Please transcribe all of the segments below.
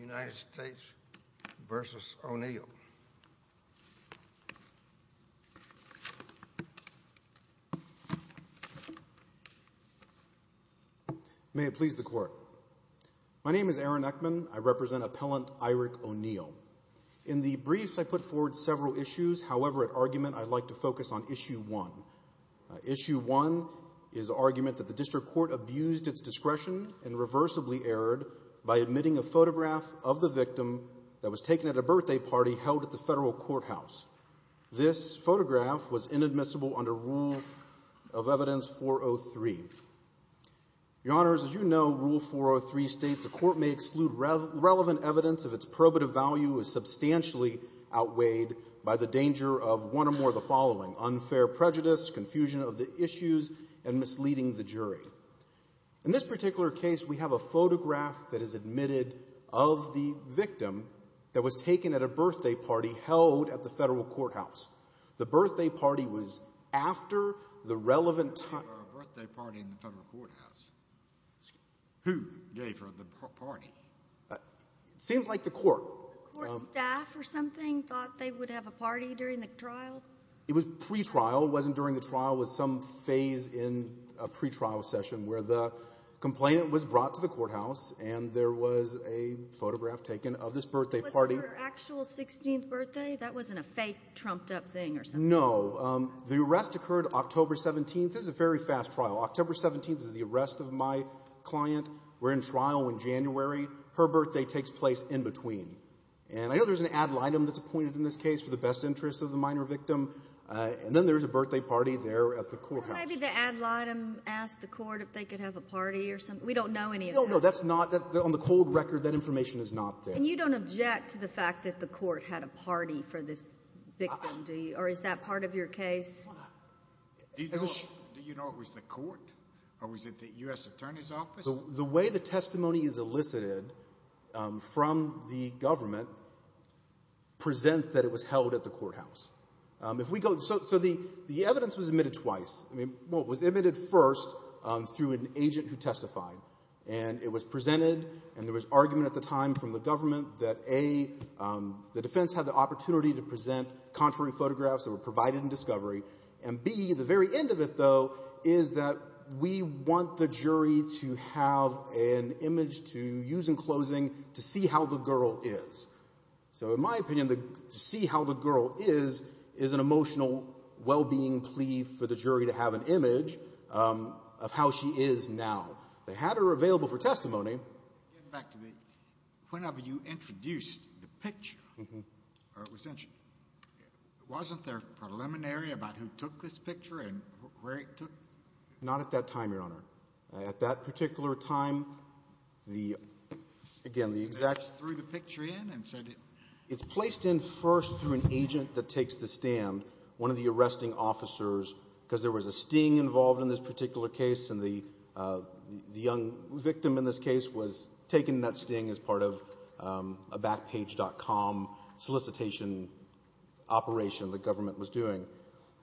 United States v. Oneal. May it please the court. My name is Aaron Eckman. I represent appellant Irick Oneal. In the briefs, I put forward several issues. However, at argument, I'd like to focus on issue one. Issue one is argument that the district court abused its discretion and reversibly erred by admitting a photograph of the victim that was taken at a birthday party held at the federal courthouse. This photograph was inadmissible under Rule of Evidence 403. Your Honors, as you know, Rule 403 states a court may exclude relevant evidence if its probative value is substantially outweighed by the danger of one or more of the following, unfair prejudice, confusion of the issues, and misleading the jury. In this particular case, we have a photograph that is admitted of the victim that was taken at a birthday party held at the federal courthouse. The birthday party was after the relevant time. The birthday party in the federal courthouse. Who gave her the party? It seems like the court. The court staff or something thought they would have a party during the trial? It was pretrial. It wasn't during the trial. It was some phase in a pretrial session where the complainant was brought to the courthouse, and there was a photograph taken of this birthday party. Was it her actual 16th birthday? That wasn't a fake trumped-up thing or something? No. The arrest occurred October 17th. This is a very fast trial. October 17th is the arrest of my client. We're in trial in January. Her birthday takes place in between. And I know there's an ad litem that's appointed in this case for the best interest of the minor victim. And then there's a birthday party there at the courthouse. Well, maybe the ad litem asked the court if they could have a party or something. We don't know any of that. No, no. That's not the – on the cold record, that information is not there. And you don't object to the fact that the court had a party for this victim, do you? Or is that part of your case? Do you know it was the court or was it the U.S. Attorney's Office? The way the testimony is elicited from the government presents that it was held at the courthouse. If we go – so the evidence was admitted twice. Well, it was admitted first through an agent who testified. And it was presented, and there was argument at the time from the government that, A, the defense had the opportunity to present contrary photographs that were provided in discovery, and, B, the very end of it, though, is that we want the jury to have an image to use in closing to see how the girl is. So in my opinion, to see how the girl is is an emotional well-being plea for the jury to have an image of how she is now. They had her available for testimony. Getting back to the – whenever you introduced the picture, or it was introduced, wasn't there preliminary about who took this picture and where it took – Not at that time, Your Honor. At that particular time, the – again, the exact – It's placed in first through an agent that takes the stand, one of the arresting officers, because there was a sting involved in this particular case, and the young victim in this case was taken in that sting as part of a Backpage.com solicitation operation the government was doing.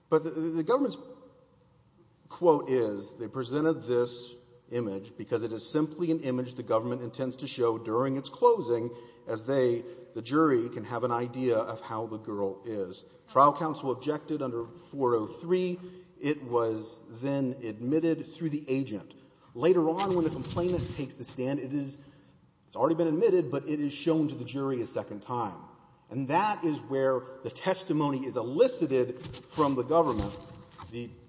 But the government's quote is they presented this image because it is simply an image the government intends to show during its closing as they, the jury, can have an idea of how the girl is. Trial counsel objected under 403. It was then admitted through the agent. Later on, when the complainant takes the stand, it is – it's already been admitted, but it is shown to the jury a second time. And that is where the testimony is elicited from the government. The –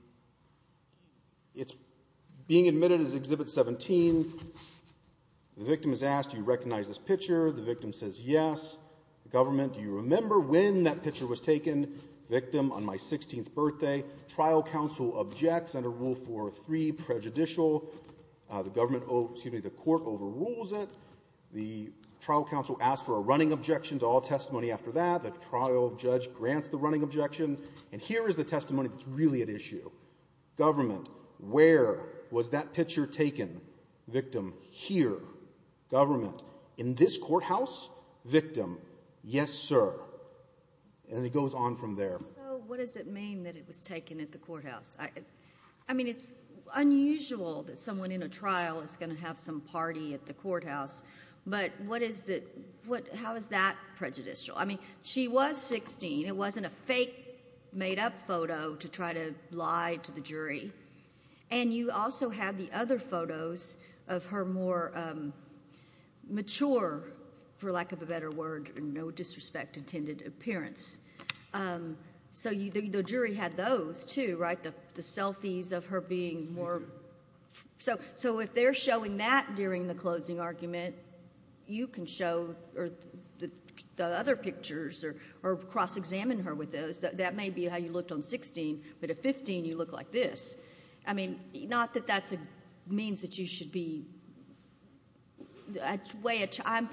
it's being admitted as Exhibit 17. The victim is asked, do you recognize this picture? The victim says yes. The government, do you remember when that picture was taken? Victim, on my 16th birthday. Trial counsel objects under Rule 403, prejudicial. The government – excuse me, the court overrules it. The trial counsel asks for a running objection to all testimony after that. The trial judge grants the running objection. And here is the testimony that's really at issue. Government, where was that picture taken? Victim, here. Government, in this courthouse? Victim, yes, sir. And it goes on from there. So what does it mean that it was taken at the courthouse? I mean, it's unusual that someone in a trial is going to have some party at the courthouse. But what is the – how is that prejudicial? I mean, she was 16. It wasn't a fake made-up photo to try to lie to the jury. And you also have the other photos of her more mature, for lack of a better word, and no disrespect intended, appearance. So the jury had those too, right, the selfies of her being more – so if they're showing that during the closing argument, you can show the other pictures or cross-examine her with those, that may be how you looked on 16, but at 15 you look like this. I mean, not that that means that you should be –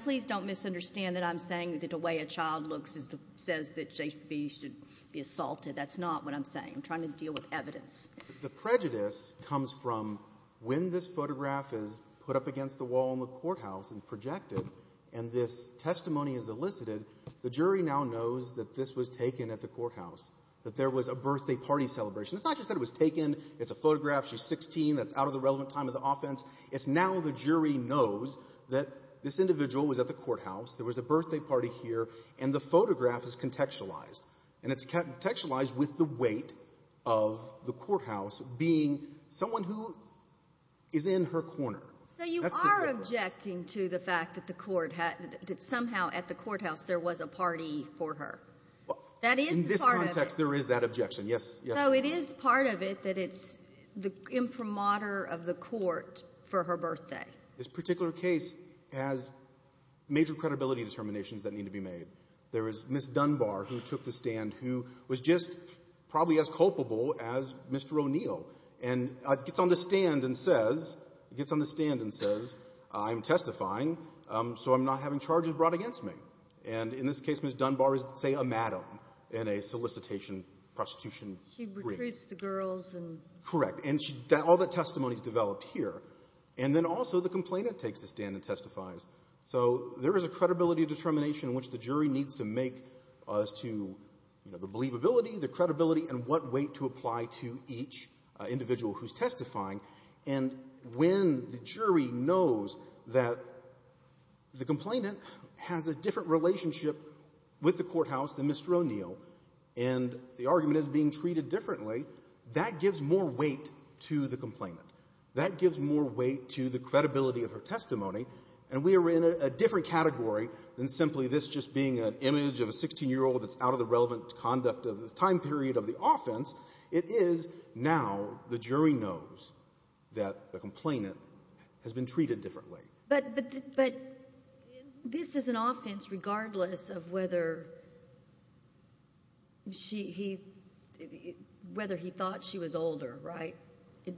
please don't misunderstand that I'm saying that the way a child looks says that they should be assaulted. That's not what I'm saying. I'm trying to deal with evidence. The prejudice comes from when this photograph is put up against the wall in the courthouse and projected, and this testimony is elicited, the jury now knows that this was taken at the courthouse, that there was a birthday party celebration. It's not just that it was taken. It's a photograph. She's 16. That's out of the relevant time of the offense. It's now the jury knows that this individual was at the courthouse, there was a birthday party here, and the photograph is contextualized. And it's contextualized with the weight of the courthouse being someone who is in her corner. So you are objecting to the fact that the court had – that somehow at the courthouse there was a party for her. That is part of it. In this context, there is that objection, yes. So it is part of it that it's the imprimatur of the court for her birthday. This particular case has major credibility determinations that need to be made. There is Ms. Dunbar who took the stand who was just probably as culpable as Mr. O'Neill and gets on the stand and says, gets on the stand and says, I'm testifying so I'm not having charges brought against me. And in this case, Ms. Dunbar is, say, a madam in a solicitation, prostitution group. She recruits the girls and – Correct. And all that testimony is developed here. And then also the complainant takes the stand and testifies. So there is a credibility determination which the jury needs to make as to, you know, the believability, the credibility, and what weight to apply to each individual who is testifying. And when the jury knows that the complainant has a different relationship with the courthouse than Mr. O'Neill and the argument is being treated differently, that gives more weight to the complainant. That gives more weight to the credibility of her testimony. And we are in a different category than simply this just being an image of a 16-year-old that's out of the relevant conduct of the time period of the offense. It is now the jury knows that the complainant has been treated differently. But this is an offense regardless of whether she – whether he thought she was older, right?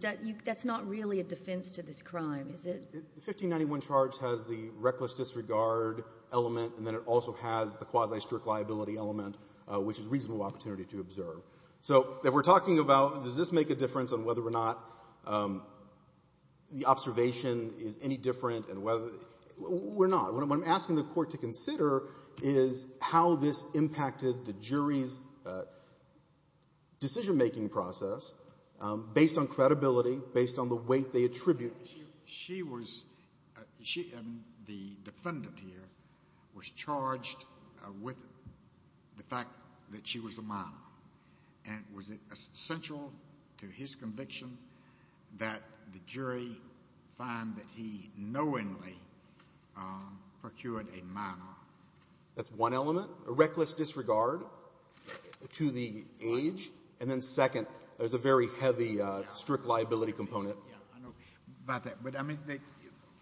That's not really a defense to this crime, is it? The 1591 charge has the reckless disregard element, and then it also has the quasi-strict liability element, which is reasonable opportunity to observe. So if we're talking about does this make a difference on whether or not the observation is any different and whether – we're not. What I'm asking the Court to consider is how this impacted the jury's decision-making process based on credibility, based on the weight they attribute. She was – the defendant here was charged with the fact that she was a minor. And was it essential to his conviction that the jury find that he knowingly procured a minor? That's one element, a reckless disregard to the age. And then second, there's a very heavy strict liability component. Yeah, I know about that. But, I mean,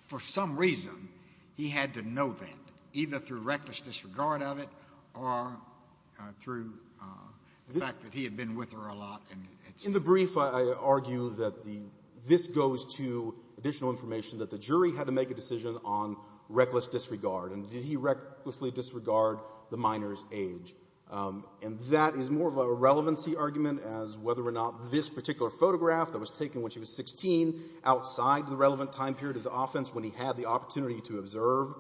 for some reason, he had to know that, either through reckless disregard of it or through the fact that he had been with her a lot. In the brief, I argue that this goes to additional information, that the jury had to make a decision on reckless disregard. And did he recklessly disregard the minor's age? And that is more of a relevancy argument as whether or not this particular photograph that was taken when she was 16 outside the relevant time period of the offense, when he had the opportunity to observe,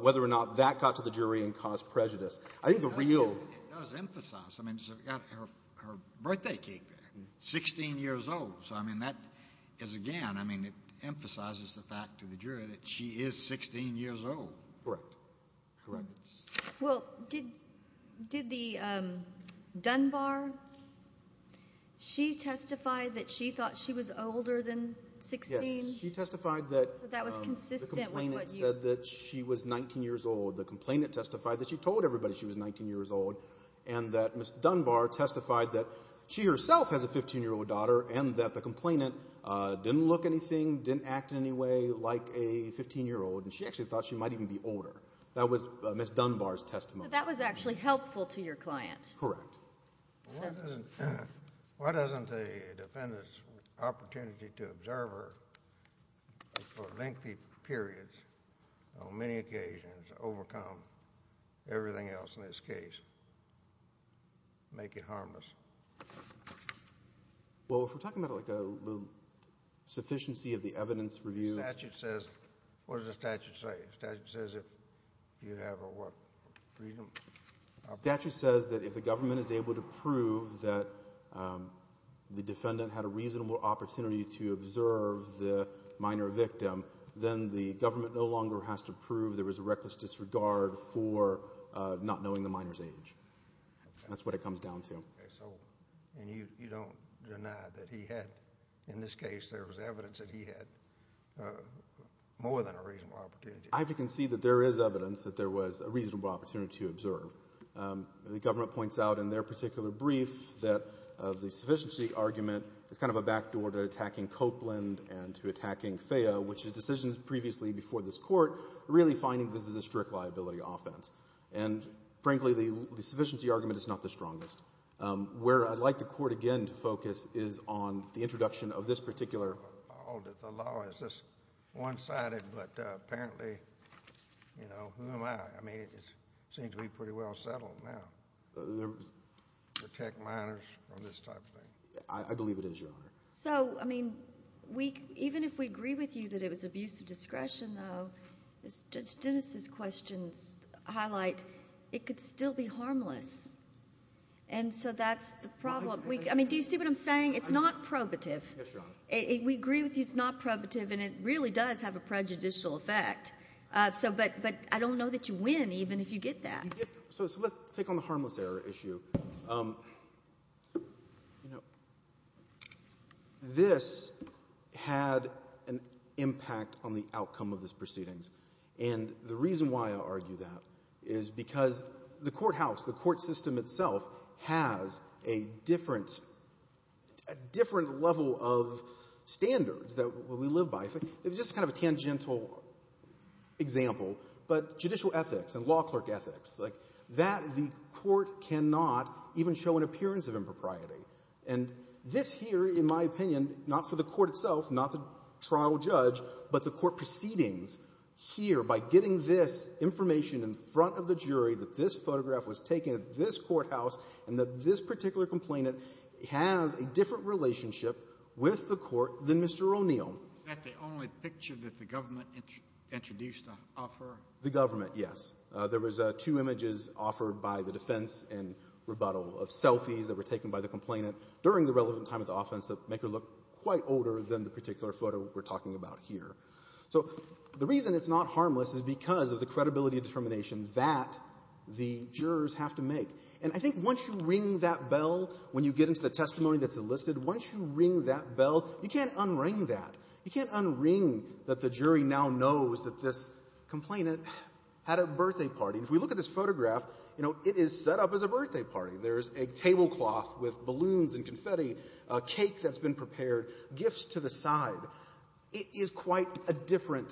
whether or not that got to the jury and caused prejudice. I think the real – It does emphasize. I mean, it's got her birthday cake there, 16 years old. So, I mean, that is, again, I mean, it emphasizes the fact to the jury that she is 16 years old. Correct. Correct. Well, did the Dunbar, she testified that she thought she was older than 16? Yes. She testified that the complainant said that she was 19 years old. The complainant testified that she told everybody she was 19 years old and that Ms. Dunbar testified that she herself has a 15-year-old daughter and that the complainant didn't look anything, didn't act in any way like a 15-year-old, and she actually thought she might even be older. That was Ms. Dunbar's testimony. So that was actually helpful to your client. Correct. Why doesn't a defendant's opportunity to observe her for lengthy periods, on many occasions, overcome everything else in this case, make it harmless? Well, if we're talking about like a sufficiency of the evidence review – The statute says – what does the statute say? The statute says if you have a what? Freedom? The statute says that if the government is able to prove that the defendant had a reasonable opportunity to observe the minor victim, then the government no longer has to prove there was a reckless disregard for not knowing the minor's age. That's what it comes down to. And you don't deny that he had, in this case, there was evidence that he had more than a reasonable opportunity. I have to concede that there is evidence that there was a reasonable opportunity to observe. The government points out in their particular brief that the sufficiency argument is kind of a backdoor to attacking Copeland and to attacking FAYA, which is decisions previously before this Court, really finding this is a strict liability offense. And, frankly, the sufficiency argument is not the strongest. Where I'd like the Court, again, to focus is on the introduction of this particular – The law is just one-sided, but apparently, you know, who am I? I mean, it seems to be pretty well settled now. Protect minors from this type of thing. I believe it is, Your Honor. So, I mean, even if we agree with you that it was abuse of discretion, though, as Judge Dennis's questions highlight, it could still be harmless. And so that's the problem. I mean, do you see what I'm saying? It's not probative. Yes, Your Honor. We agree with you it's not probative, and it really does have a prejudicial effect. But I don't know that you win even if you get that. So let's take on the harmless error issue. You know, this had an impact on the outcome of these proceedings. And the reason why I argue that is because the courthouse, the court system itself, has a different level of standards that we live by. It's just kind of a tangential example. But judicial ethics and law clerk ethics, like that the court cannot even show an appearance of impropriety. And this here, in my opinion, not for the court itself, not the trial judge, but the court proceedings here by getting this information in front of the jury that this photograph was taken at this courthouse and that this particular complainant has a different relationship with the court than Mr. O'Neill. Is that the only picture that the government introduced to offer? The government, yes. There was two images offered by the defense in rebuttal of selfies that were taken by the complainant during the relevant time of the offense that make her look quite older than the particular photo we're talking about here. So the reason it's not harmless is because of the credibility determination that the jurors have to make. And I think once you ring that bell when you get into the testimony that's enlisted, once you ring that bell, you can't unring that. You can't unring that the jury now knows that this complainant had a birthday party. If we look at this photograph, you know, it is set up as a birthday party. There's a tablecloth with balloons and confetti, a cake that's been prepared, gifts to the side. It is quite a different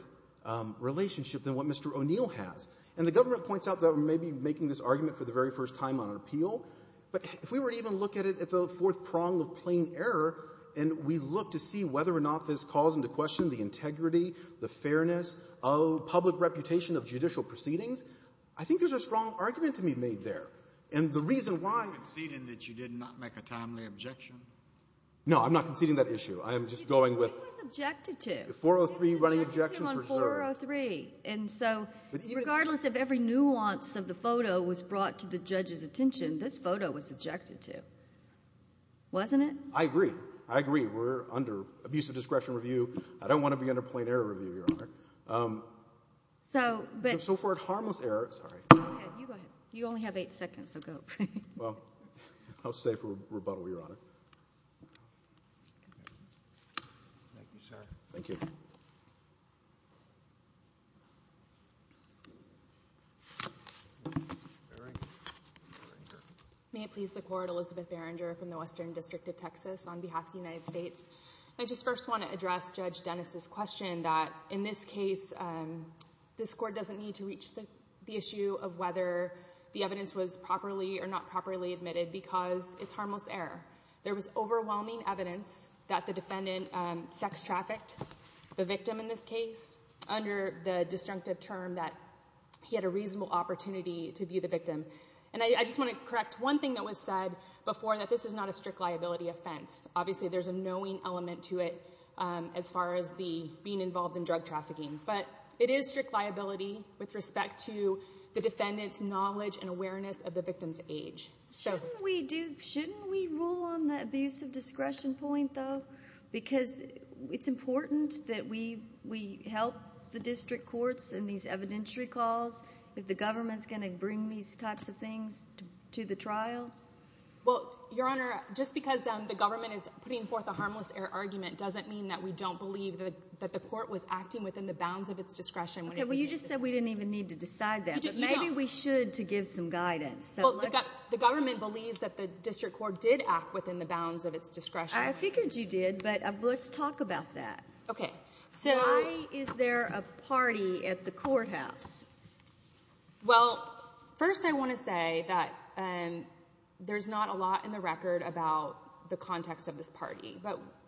relationship than what Mr. O'Neill has. And the government points out that we may be making this argument for the very first time on appeal. But if we were to even look at it at the fourth prong of plain error and we look to see whether or not this calls into question the integrity, the fairness, public reputation of judicial proceedings, I think there's a strong argument to be made there. And the reason why you did not make a timely objection. No, I'm not conceding that issue. I am just going with the 403 running objection. And so regardless of every nuance of the photo was brought to the judge's attention, this photo was objected to, wasn't it? I agree. I agree. We're under abuse of discretion review. I don't want to be under plain error review, Your Honor. So for a harmless error, sorry. You go ahead. You only have eight seconds, so go. Well, I'll stay for rebuttal, Your Honor. Thank you, sir. Thank you. May it please the court, Elizabeth Berenger from the Western District of Texas on behalf of the United States. I just first want to address Judge Dennis's question that in this case, this court doesn't need to reach the issue of whether the evidence was properly or not properly admitted because it's harmless error. There was overwhelming evidence that the defendant sex-trafficked the victim in this case under the disjunctive term that he had a reasonable opportunity to view the victim. And I just want to correct one thing that was said before, that this is not a strict liability offense. Obviously there's a knowing element to it as far as being involved in drug trafficking. But it is strict liability with respect to the defendant's knowledge and awareness of the victim's age. Shouldn't we rule on the abuse of discretion point, though? Because it's important that we help the district courts in these evidentiary calls if the government's going to bring these types of things to the trial. Well, Your Honor, just because the government is putting forth a harmless error argument doesn't mean that we don't believe that the court was acting within the bounds of its discretion. Okay, well, you just said we didn't even need to decide that. But maybe we should to give some guidance. The government believes that the district court did act within the bounds of its discretion. I figured you did, but let's talk about that. Why is there a party at the courthouse? Well, first I want to say that there's not a lot in the record about the context of this party.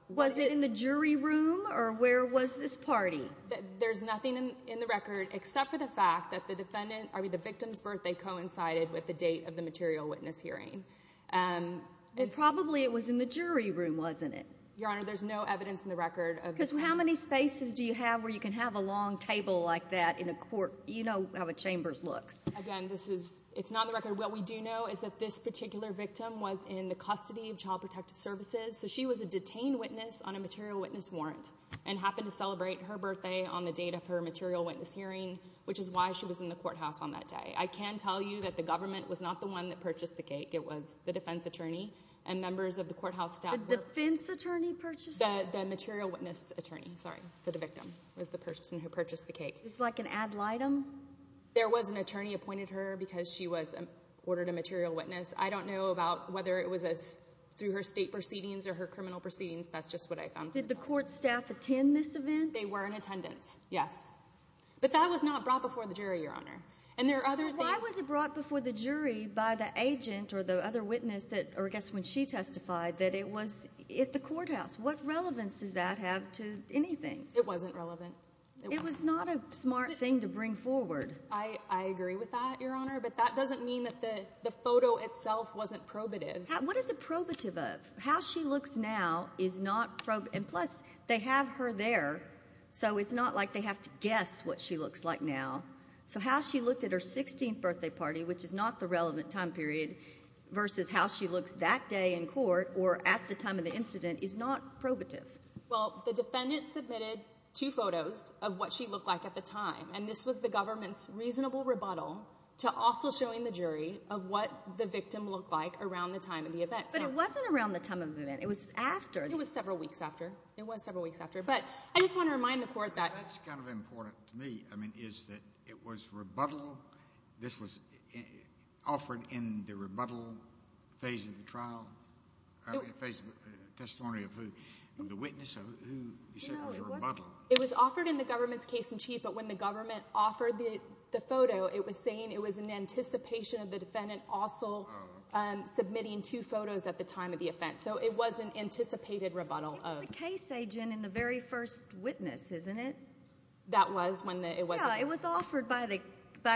Was it in the jury room, or where was this party? There's nothing in the record except for the fact that the victim's birthday coincided with the date of the material witness hearing. Probably it was in the jury room, wasn't it? Your Honor, there's no evidence in the record of this party. Because how many spaces do you have where you can have a long table like that in a court? You know how a chamber's looks. Again, it's not in the record. What we do know is that this particular victim was in the custody of Child Protective Services, so she was a detained witness on a material witness warrant and happened to celebrate her birthday on the date of her material witness hearing, which is why she was in the courthouse on that day. I can tell you that the government was not the one that purchased the cake. It was the defense attorney and members of the courthouse staff. The defense attorney purchased it? The material witness attorney, sorry, for the victim was the person who purchased the cake. It's like an ad litem? There was an attorney appointed her because she was ordered a material witness. I don't know about whether it was through her state proceedings or her criminal proceedings. That's just what I found. Did the court staff attend this event? They were in attendance, yes. But that was not brought before the jury, Your Honor. And there are other things. Why was it brought before the jury by the agent or the other witness, or I guess when she testified, that it was at the courthouse? What relevance does that have to anything? It wasn't relevant. It was not a smart thing to bring forward. I agree with that, Your Honor, but that doesn't mean that the photo itself wasn't probative. What is it probative of? How she looks now is not probative, and plus they have her there, so it's not like they have to guess what she looks like now. So how she looked at her 16th birthday party, which is not the relevant time period, versus how she looks that day in court or at the time of the incident is not probative. Well, the defendant submitted two photos of what she looked like at the time, and this was the government's reasonable rebuttal to also showing the jury of what the victim looked like around the time of the event. But it wasn't around the time of the event. It was after. It was several weeks after. It was several weeks after. But I just want to remind the court that— Well, that's kind of important to me, I mean, is that it was rebuttal. This was offered in the rebuttal phase of the trial, phase of the testimony of who the witness of who you said was rebuttal. It was offered in the government's case-in-chief, but when the government offered the photo, it was saying it was in anticipation of the defendant also submitting two photos at the time of the offense. So it was an anticipated rebuttal of— By the case agent and the very first witness, isn't it? That was when it was— Yeah, it was offered by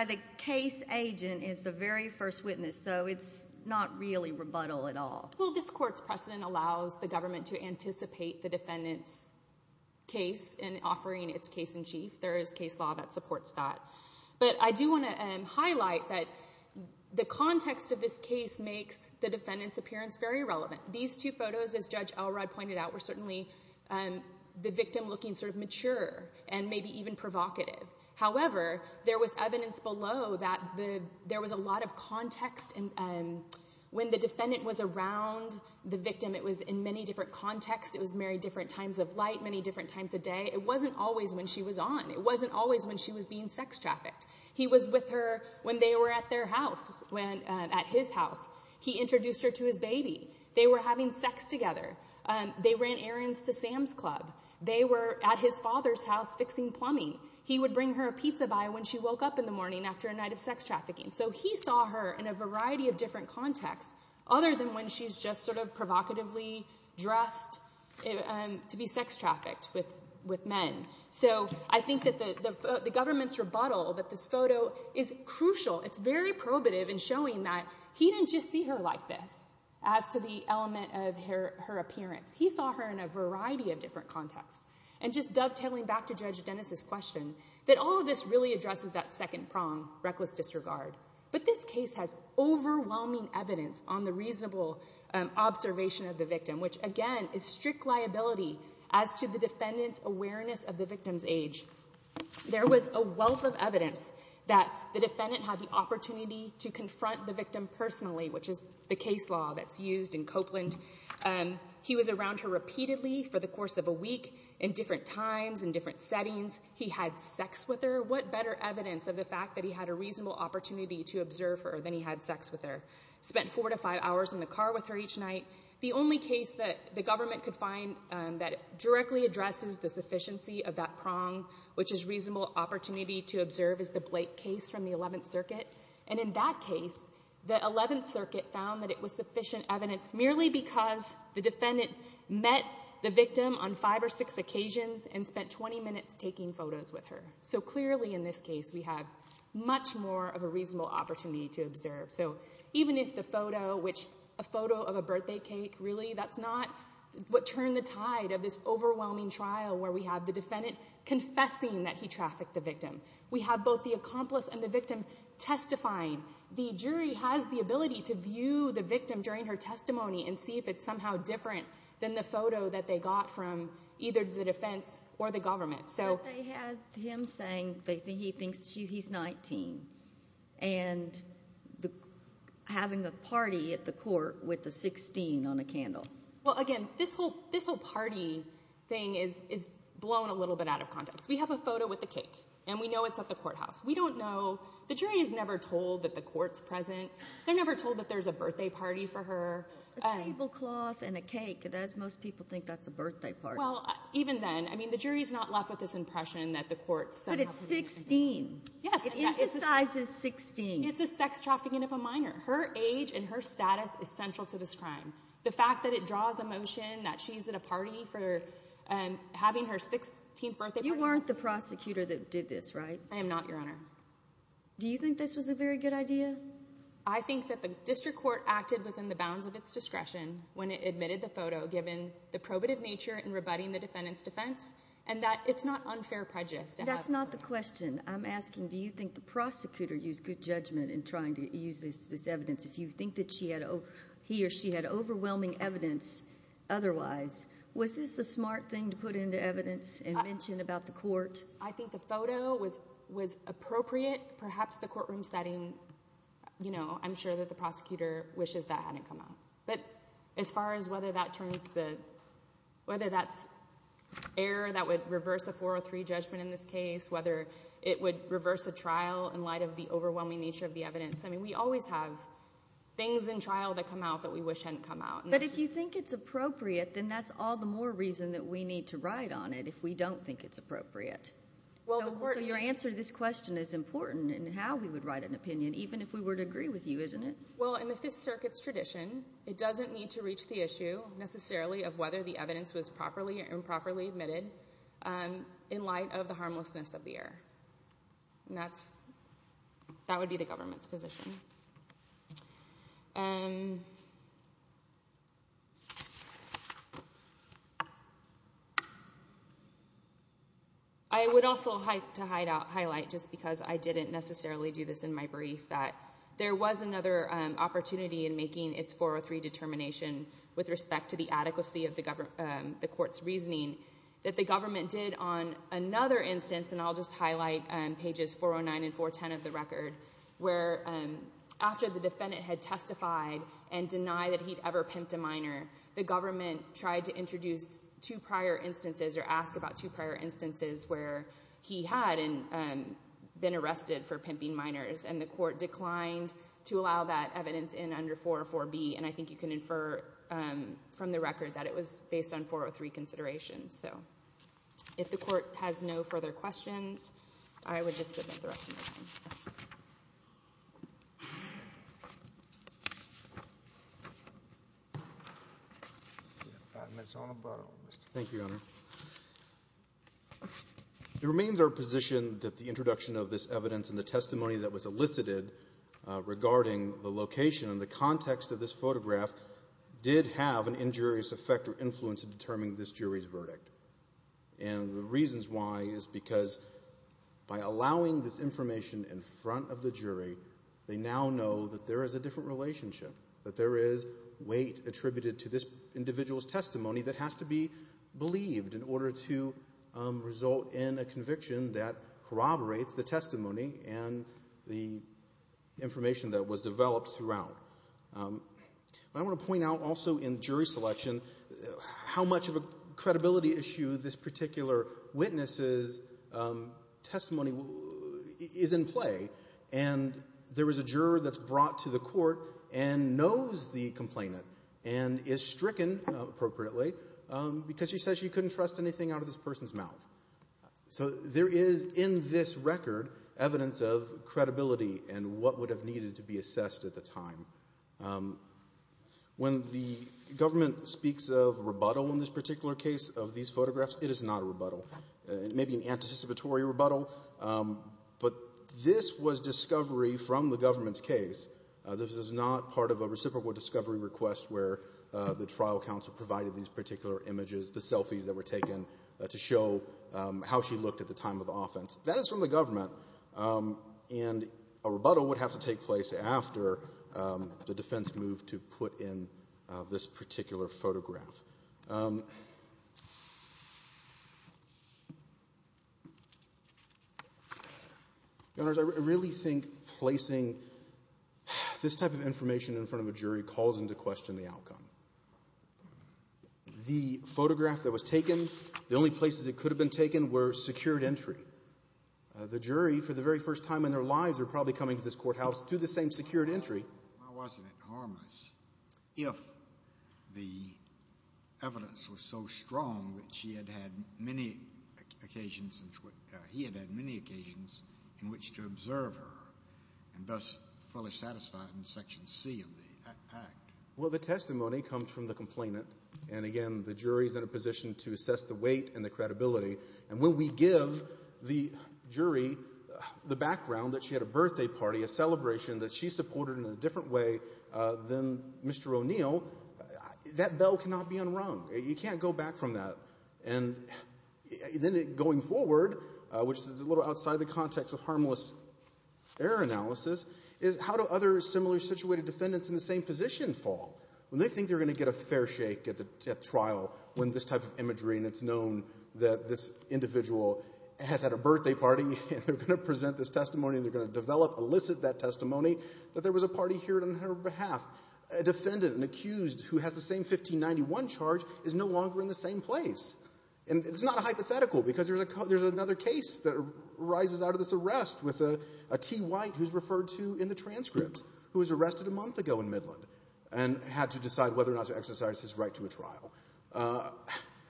the case agent as the very first witness, so it's not really rebuttal at all. Well, this court's precedent allows the government to anticipate the defendant's case in offering its case-in-chief. There is case law that supports that. But I do want to highlight that the context of this case makes the defendant's appearance very relevant. These two photos, as Judge Elrod pointed out, were certainly the victim looking sort of mature and maybe even provocative. However, there was evidence below that there was a lot of context. When the defendant was around the victim, it was in many different contexts. It was married different times of light, many different times of day. It wasn't always when she was on. It wasn't always when she was being sex trafficked. He was with her when they were at their house, at his house. He introduced her to his baby. They were having sex together. They ran errands to Sam's Club. They were at his father's house fixing plumbing. He would bring her a pizza buy when she woke up in the morning after a night of sex trafficking. So he saw her in a variety of different contexts, other than when she's just sort of provocatively dressed to be sex trafficked with men. So I think that the government's rebuttal, that this photo, is crucial. It's very probative in showing that he didn't just see her like this as to the element of her appearance. He saw her in a variety of different contexts. And just dovetailing back to Judge Dennis's question, that all of this really addresses that second prong, reckless disregard. But this case has overwhelming evidence on the reasonable observation of the victim, which, again, is strict liability as to the defendant's awareness of the victim's age. There was a wealth of evidence that the defendant had the opportunity to confront the victim personally, which is the case law that's used in Copeland. He was around her repeatedly for the course of a week in different times, in different settings. He had sex with her. What better evidence of the fact that he had a reasonable opportunity to observe her than he had sex with her? Spent four to five hours in the car with her each night. The only case that the government could find that directly addresses the sufficiency of that prong, which is reasonable opportunity to observe, is the Blake case from the 11th Circuit. And in that case, the 11th Circuit found that it was sufficient evidence merely because the defendant met the victim on five or six occasions and spent 20 minutes taking photos with her. So clearly, in this case, we have much more of a reasonable opportunity to observe. So even if the photo, which a photo of a birthday cake, really, that's not what turned the tide of this overwhelming trial where we have the defendant confessing that he trafficked the victim. We have both the accomplice and the victim testifying. The jury has the ability to view the victim during her testimony and see if it's somehow different than the photo that they got from either the defense or the government. But they had him saying that he thinks he's 19 and having a party at the court with a 16 on a candle. Well, again, this whole party thing is blown a little bit out of context. We have a photo with a cake, and we know it's at the courthouse. We don't know. The jury is never told that the court's present. They're never told that there's a birthday party for her. A tablecloth and a cake, most people think that's a birthday party. Well, even then, I mean, the jury's not left with this impression that the court's somehow present. But it's 16. It emphasizes 16. It's a sex trafficking of a minor. Her age and her status is central to this crime. The fact that it draws emotion that she's at a party for having her 16th birthday party. You weren't the prosecutor that did this, right? I am not, Your Honor. Do you think this was a very good idea? I think that the district court acted within the bounds of its discretion when it admitted the photo given the probative nature in rebutting the defendant's defense and that it's not unfair prejudice. That's not the question. I'm asking do you think the prosecutor used good judgment in trying to use this evidence? If you think that he or she had overwhelming evidence otherwise, was this a smart thing to put into evidence and mention about the court? I think the photo was appropriate. Perhaps the courtroom setting, you know, I'm sure that the prosecutor wishes that hadn't come out. But as far as whether that's error that would reverse a 403 judgment in this case, whether it would reverse a trial in light of the overwhelming nature of the evidence, I mean we always have things in trial that come out that we wish hadn't come out. But if you think it's appropriate, then that's all the more reason that we need to ride on it if we don't think it's appropriate. So your answer to this question is important in how we would ride an opinion, even if we were to agree with you, isn't it? Well, in the Fifth Circuit's tradition, it doesn't need to reach the issue necessarily of whether the evidence was properly or improperly admitted in light of the harmlessness of the error. That would be the government's position. I would also like to highlight, just because I didn't necessarily do this in my brief, that there was another opportunity in making its 403 determination with respect to the adequacy of the court's reasoning that the government did on another instance, and I'll just highlight pages 409 and 410 of the record, where after the defendant had testified and denied that he'd ever pimped a minor, the government tried to introduce two prior instances or ask about two prior instances where he had been arrested for pimping minors and the court declined to allow that evidence in under 404B, and I think you can infer from the record that it was based on 403 considerations. So if the Court has no further questions, I would just submit the rest of my time. Thank you, Your Honor. It remains our position that the introduction of this evidence and the testimony that was elicited regarding the location and the context of this photograph did have an injurious effect or influence in determining this jury's verdict, and the reasons why is because by allowing this information in front of the jury, they now know that there is a different relationship, that there is weight attributed to this individual's testimony that has to be believed in order to result in a conviction that corroborates the testimony and the information that was developed throughout. But I want to point out also in jury selection how much of a credibility issue this particular witness's testimony is in play, and there is a juror that's brought to the court and knows the complainant and is stricken, appropriately, because she says she couldn't trust anything out of this person's mouth. So there is in this record evidence of credibility and what would have needed to be assessed at the time. When the government speaks of rebuttal in this particular case of these photographs, it is not a rebuttal. It may be an anticipatory rebuttal, but this was discovery from the government's case. This is not part of a reciprocal discovery request where the trial counsel provided these particular images, the selfies that were taken to show how she looked at the time of the offense. That is from the government, and a rebuttal would have to take place after the defense moved to put in this particular photograph. I really think placing this type of information in front of a jury calls into question the outcome. The photograph that was taken, the only places it could have been taken were secured entry. The jury, for the very first time in their lives, are probably coming to this courthouse through the same secured entry. Why wasn't it harmless if the evidence was so strong that she had had many occasions and he had had many occasions in which to observe her and thus fully satisfied in Section C of the Act? Well, the testimony comes from the complainant, and again the jury is in a position to assess the weight and the credibility. And when we give the jury the background that she had a birthday party, a celebration that she supported in a different way than Mr. O'Neill, that bell cannot be unrung. You can't go back from that. And then going forward, which is a little outside the context of harmless error analysis, is how do other similarly situated defendants in the same position fall? When they think they're going to get a fair shake at trial when this type of imagery and it's known that this individual has had a birthday party and they're going to present this testimony and they're going to develop, elicit that testimony, that there was a party here on her behalf, a defendant and accused who has the same 1591 charge is no longer in the same place. And it's not hypothetical because there's another case that arises out of this arrest with a T. White who's referred to in the transcript, who was arrested a month ago in Midland and had to decide whether or not to exercise his right to a trial.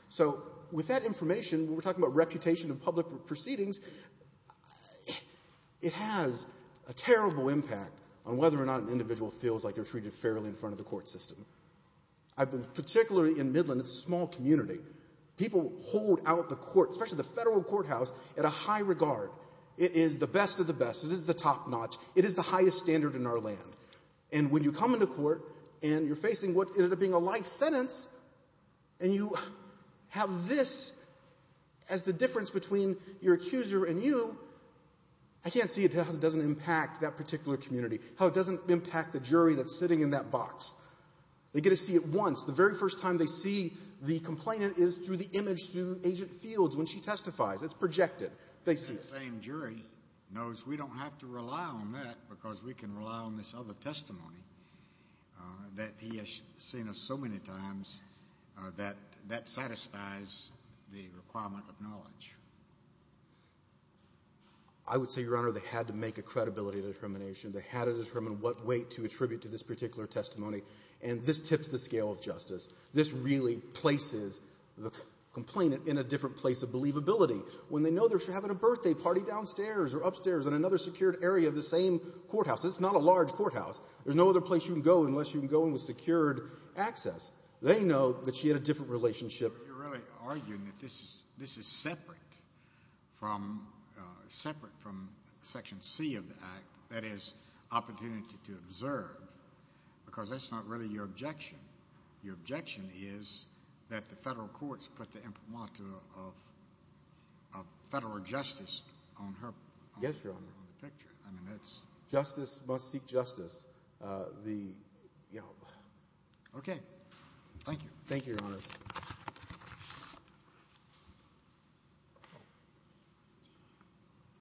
So with that information, when we're talking about reputation in public proceedings, it has a terrible impact on whether or not an individual feels like they're treated fairly in front of the court system. Particularly in Midland, it's a small community. People hold out the court, especially the federal courthouse, at a high regard. It is the best of the best. It is the top notch. It is the highest standard in our land. And when you come into court and you're facing what ended up being a life sentence and you have this as the difference between your accuser and you, I can't see how it doesn't impact that particular community, how it doesn't impact the jury that's sitting in that box. They get to see it once. The very first time they see the complainant is through the image through Agent Fields when she testifies. It's projected. The same jury knows we don't have to rely on that because we can rely on this other testimony that he has seen so many times that that satisfies the requirement of knowledge. I would say, Your Honor, they had to make a credibility determination. They had to determine what weight to attribute to this particular testimony. And this tips the scale of justice. This really places the complainant in a different place of believability. When they know they're having a birthday party downstairs or upstairs in another secured area of the same courthouse. It's not a large courthouse. There's no other place you can go unless you can go in with secured access. They know that she had a different relationship. You're really arguing that this is separate from Section C of the Act, that is, opportunity to observe, because that's not really your objection. Your objection is that the federal courts put the imprimatur of federal justice on her picture. Justice must seek justice. Okay. Thank you. Thank you, Your Honor.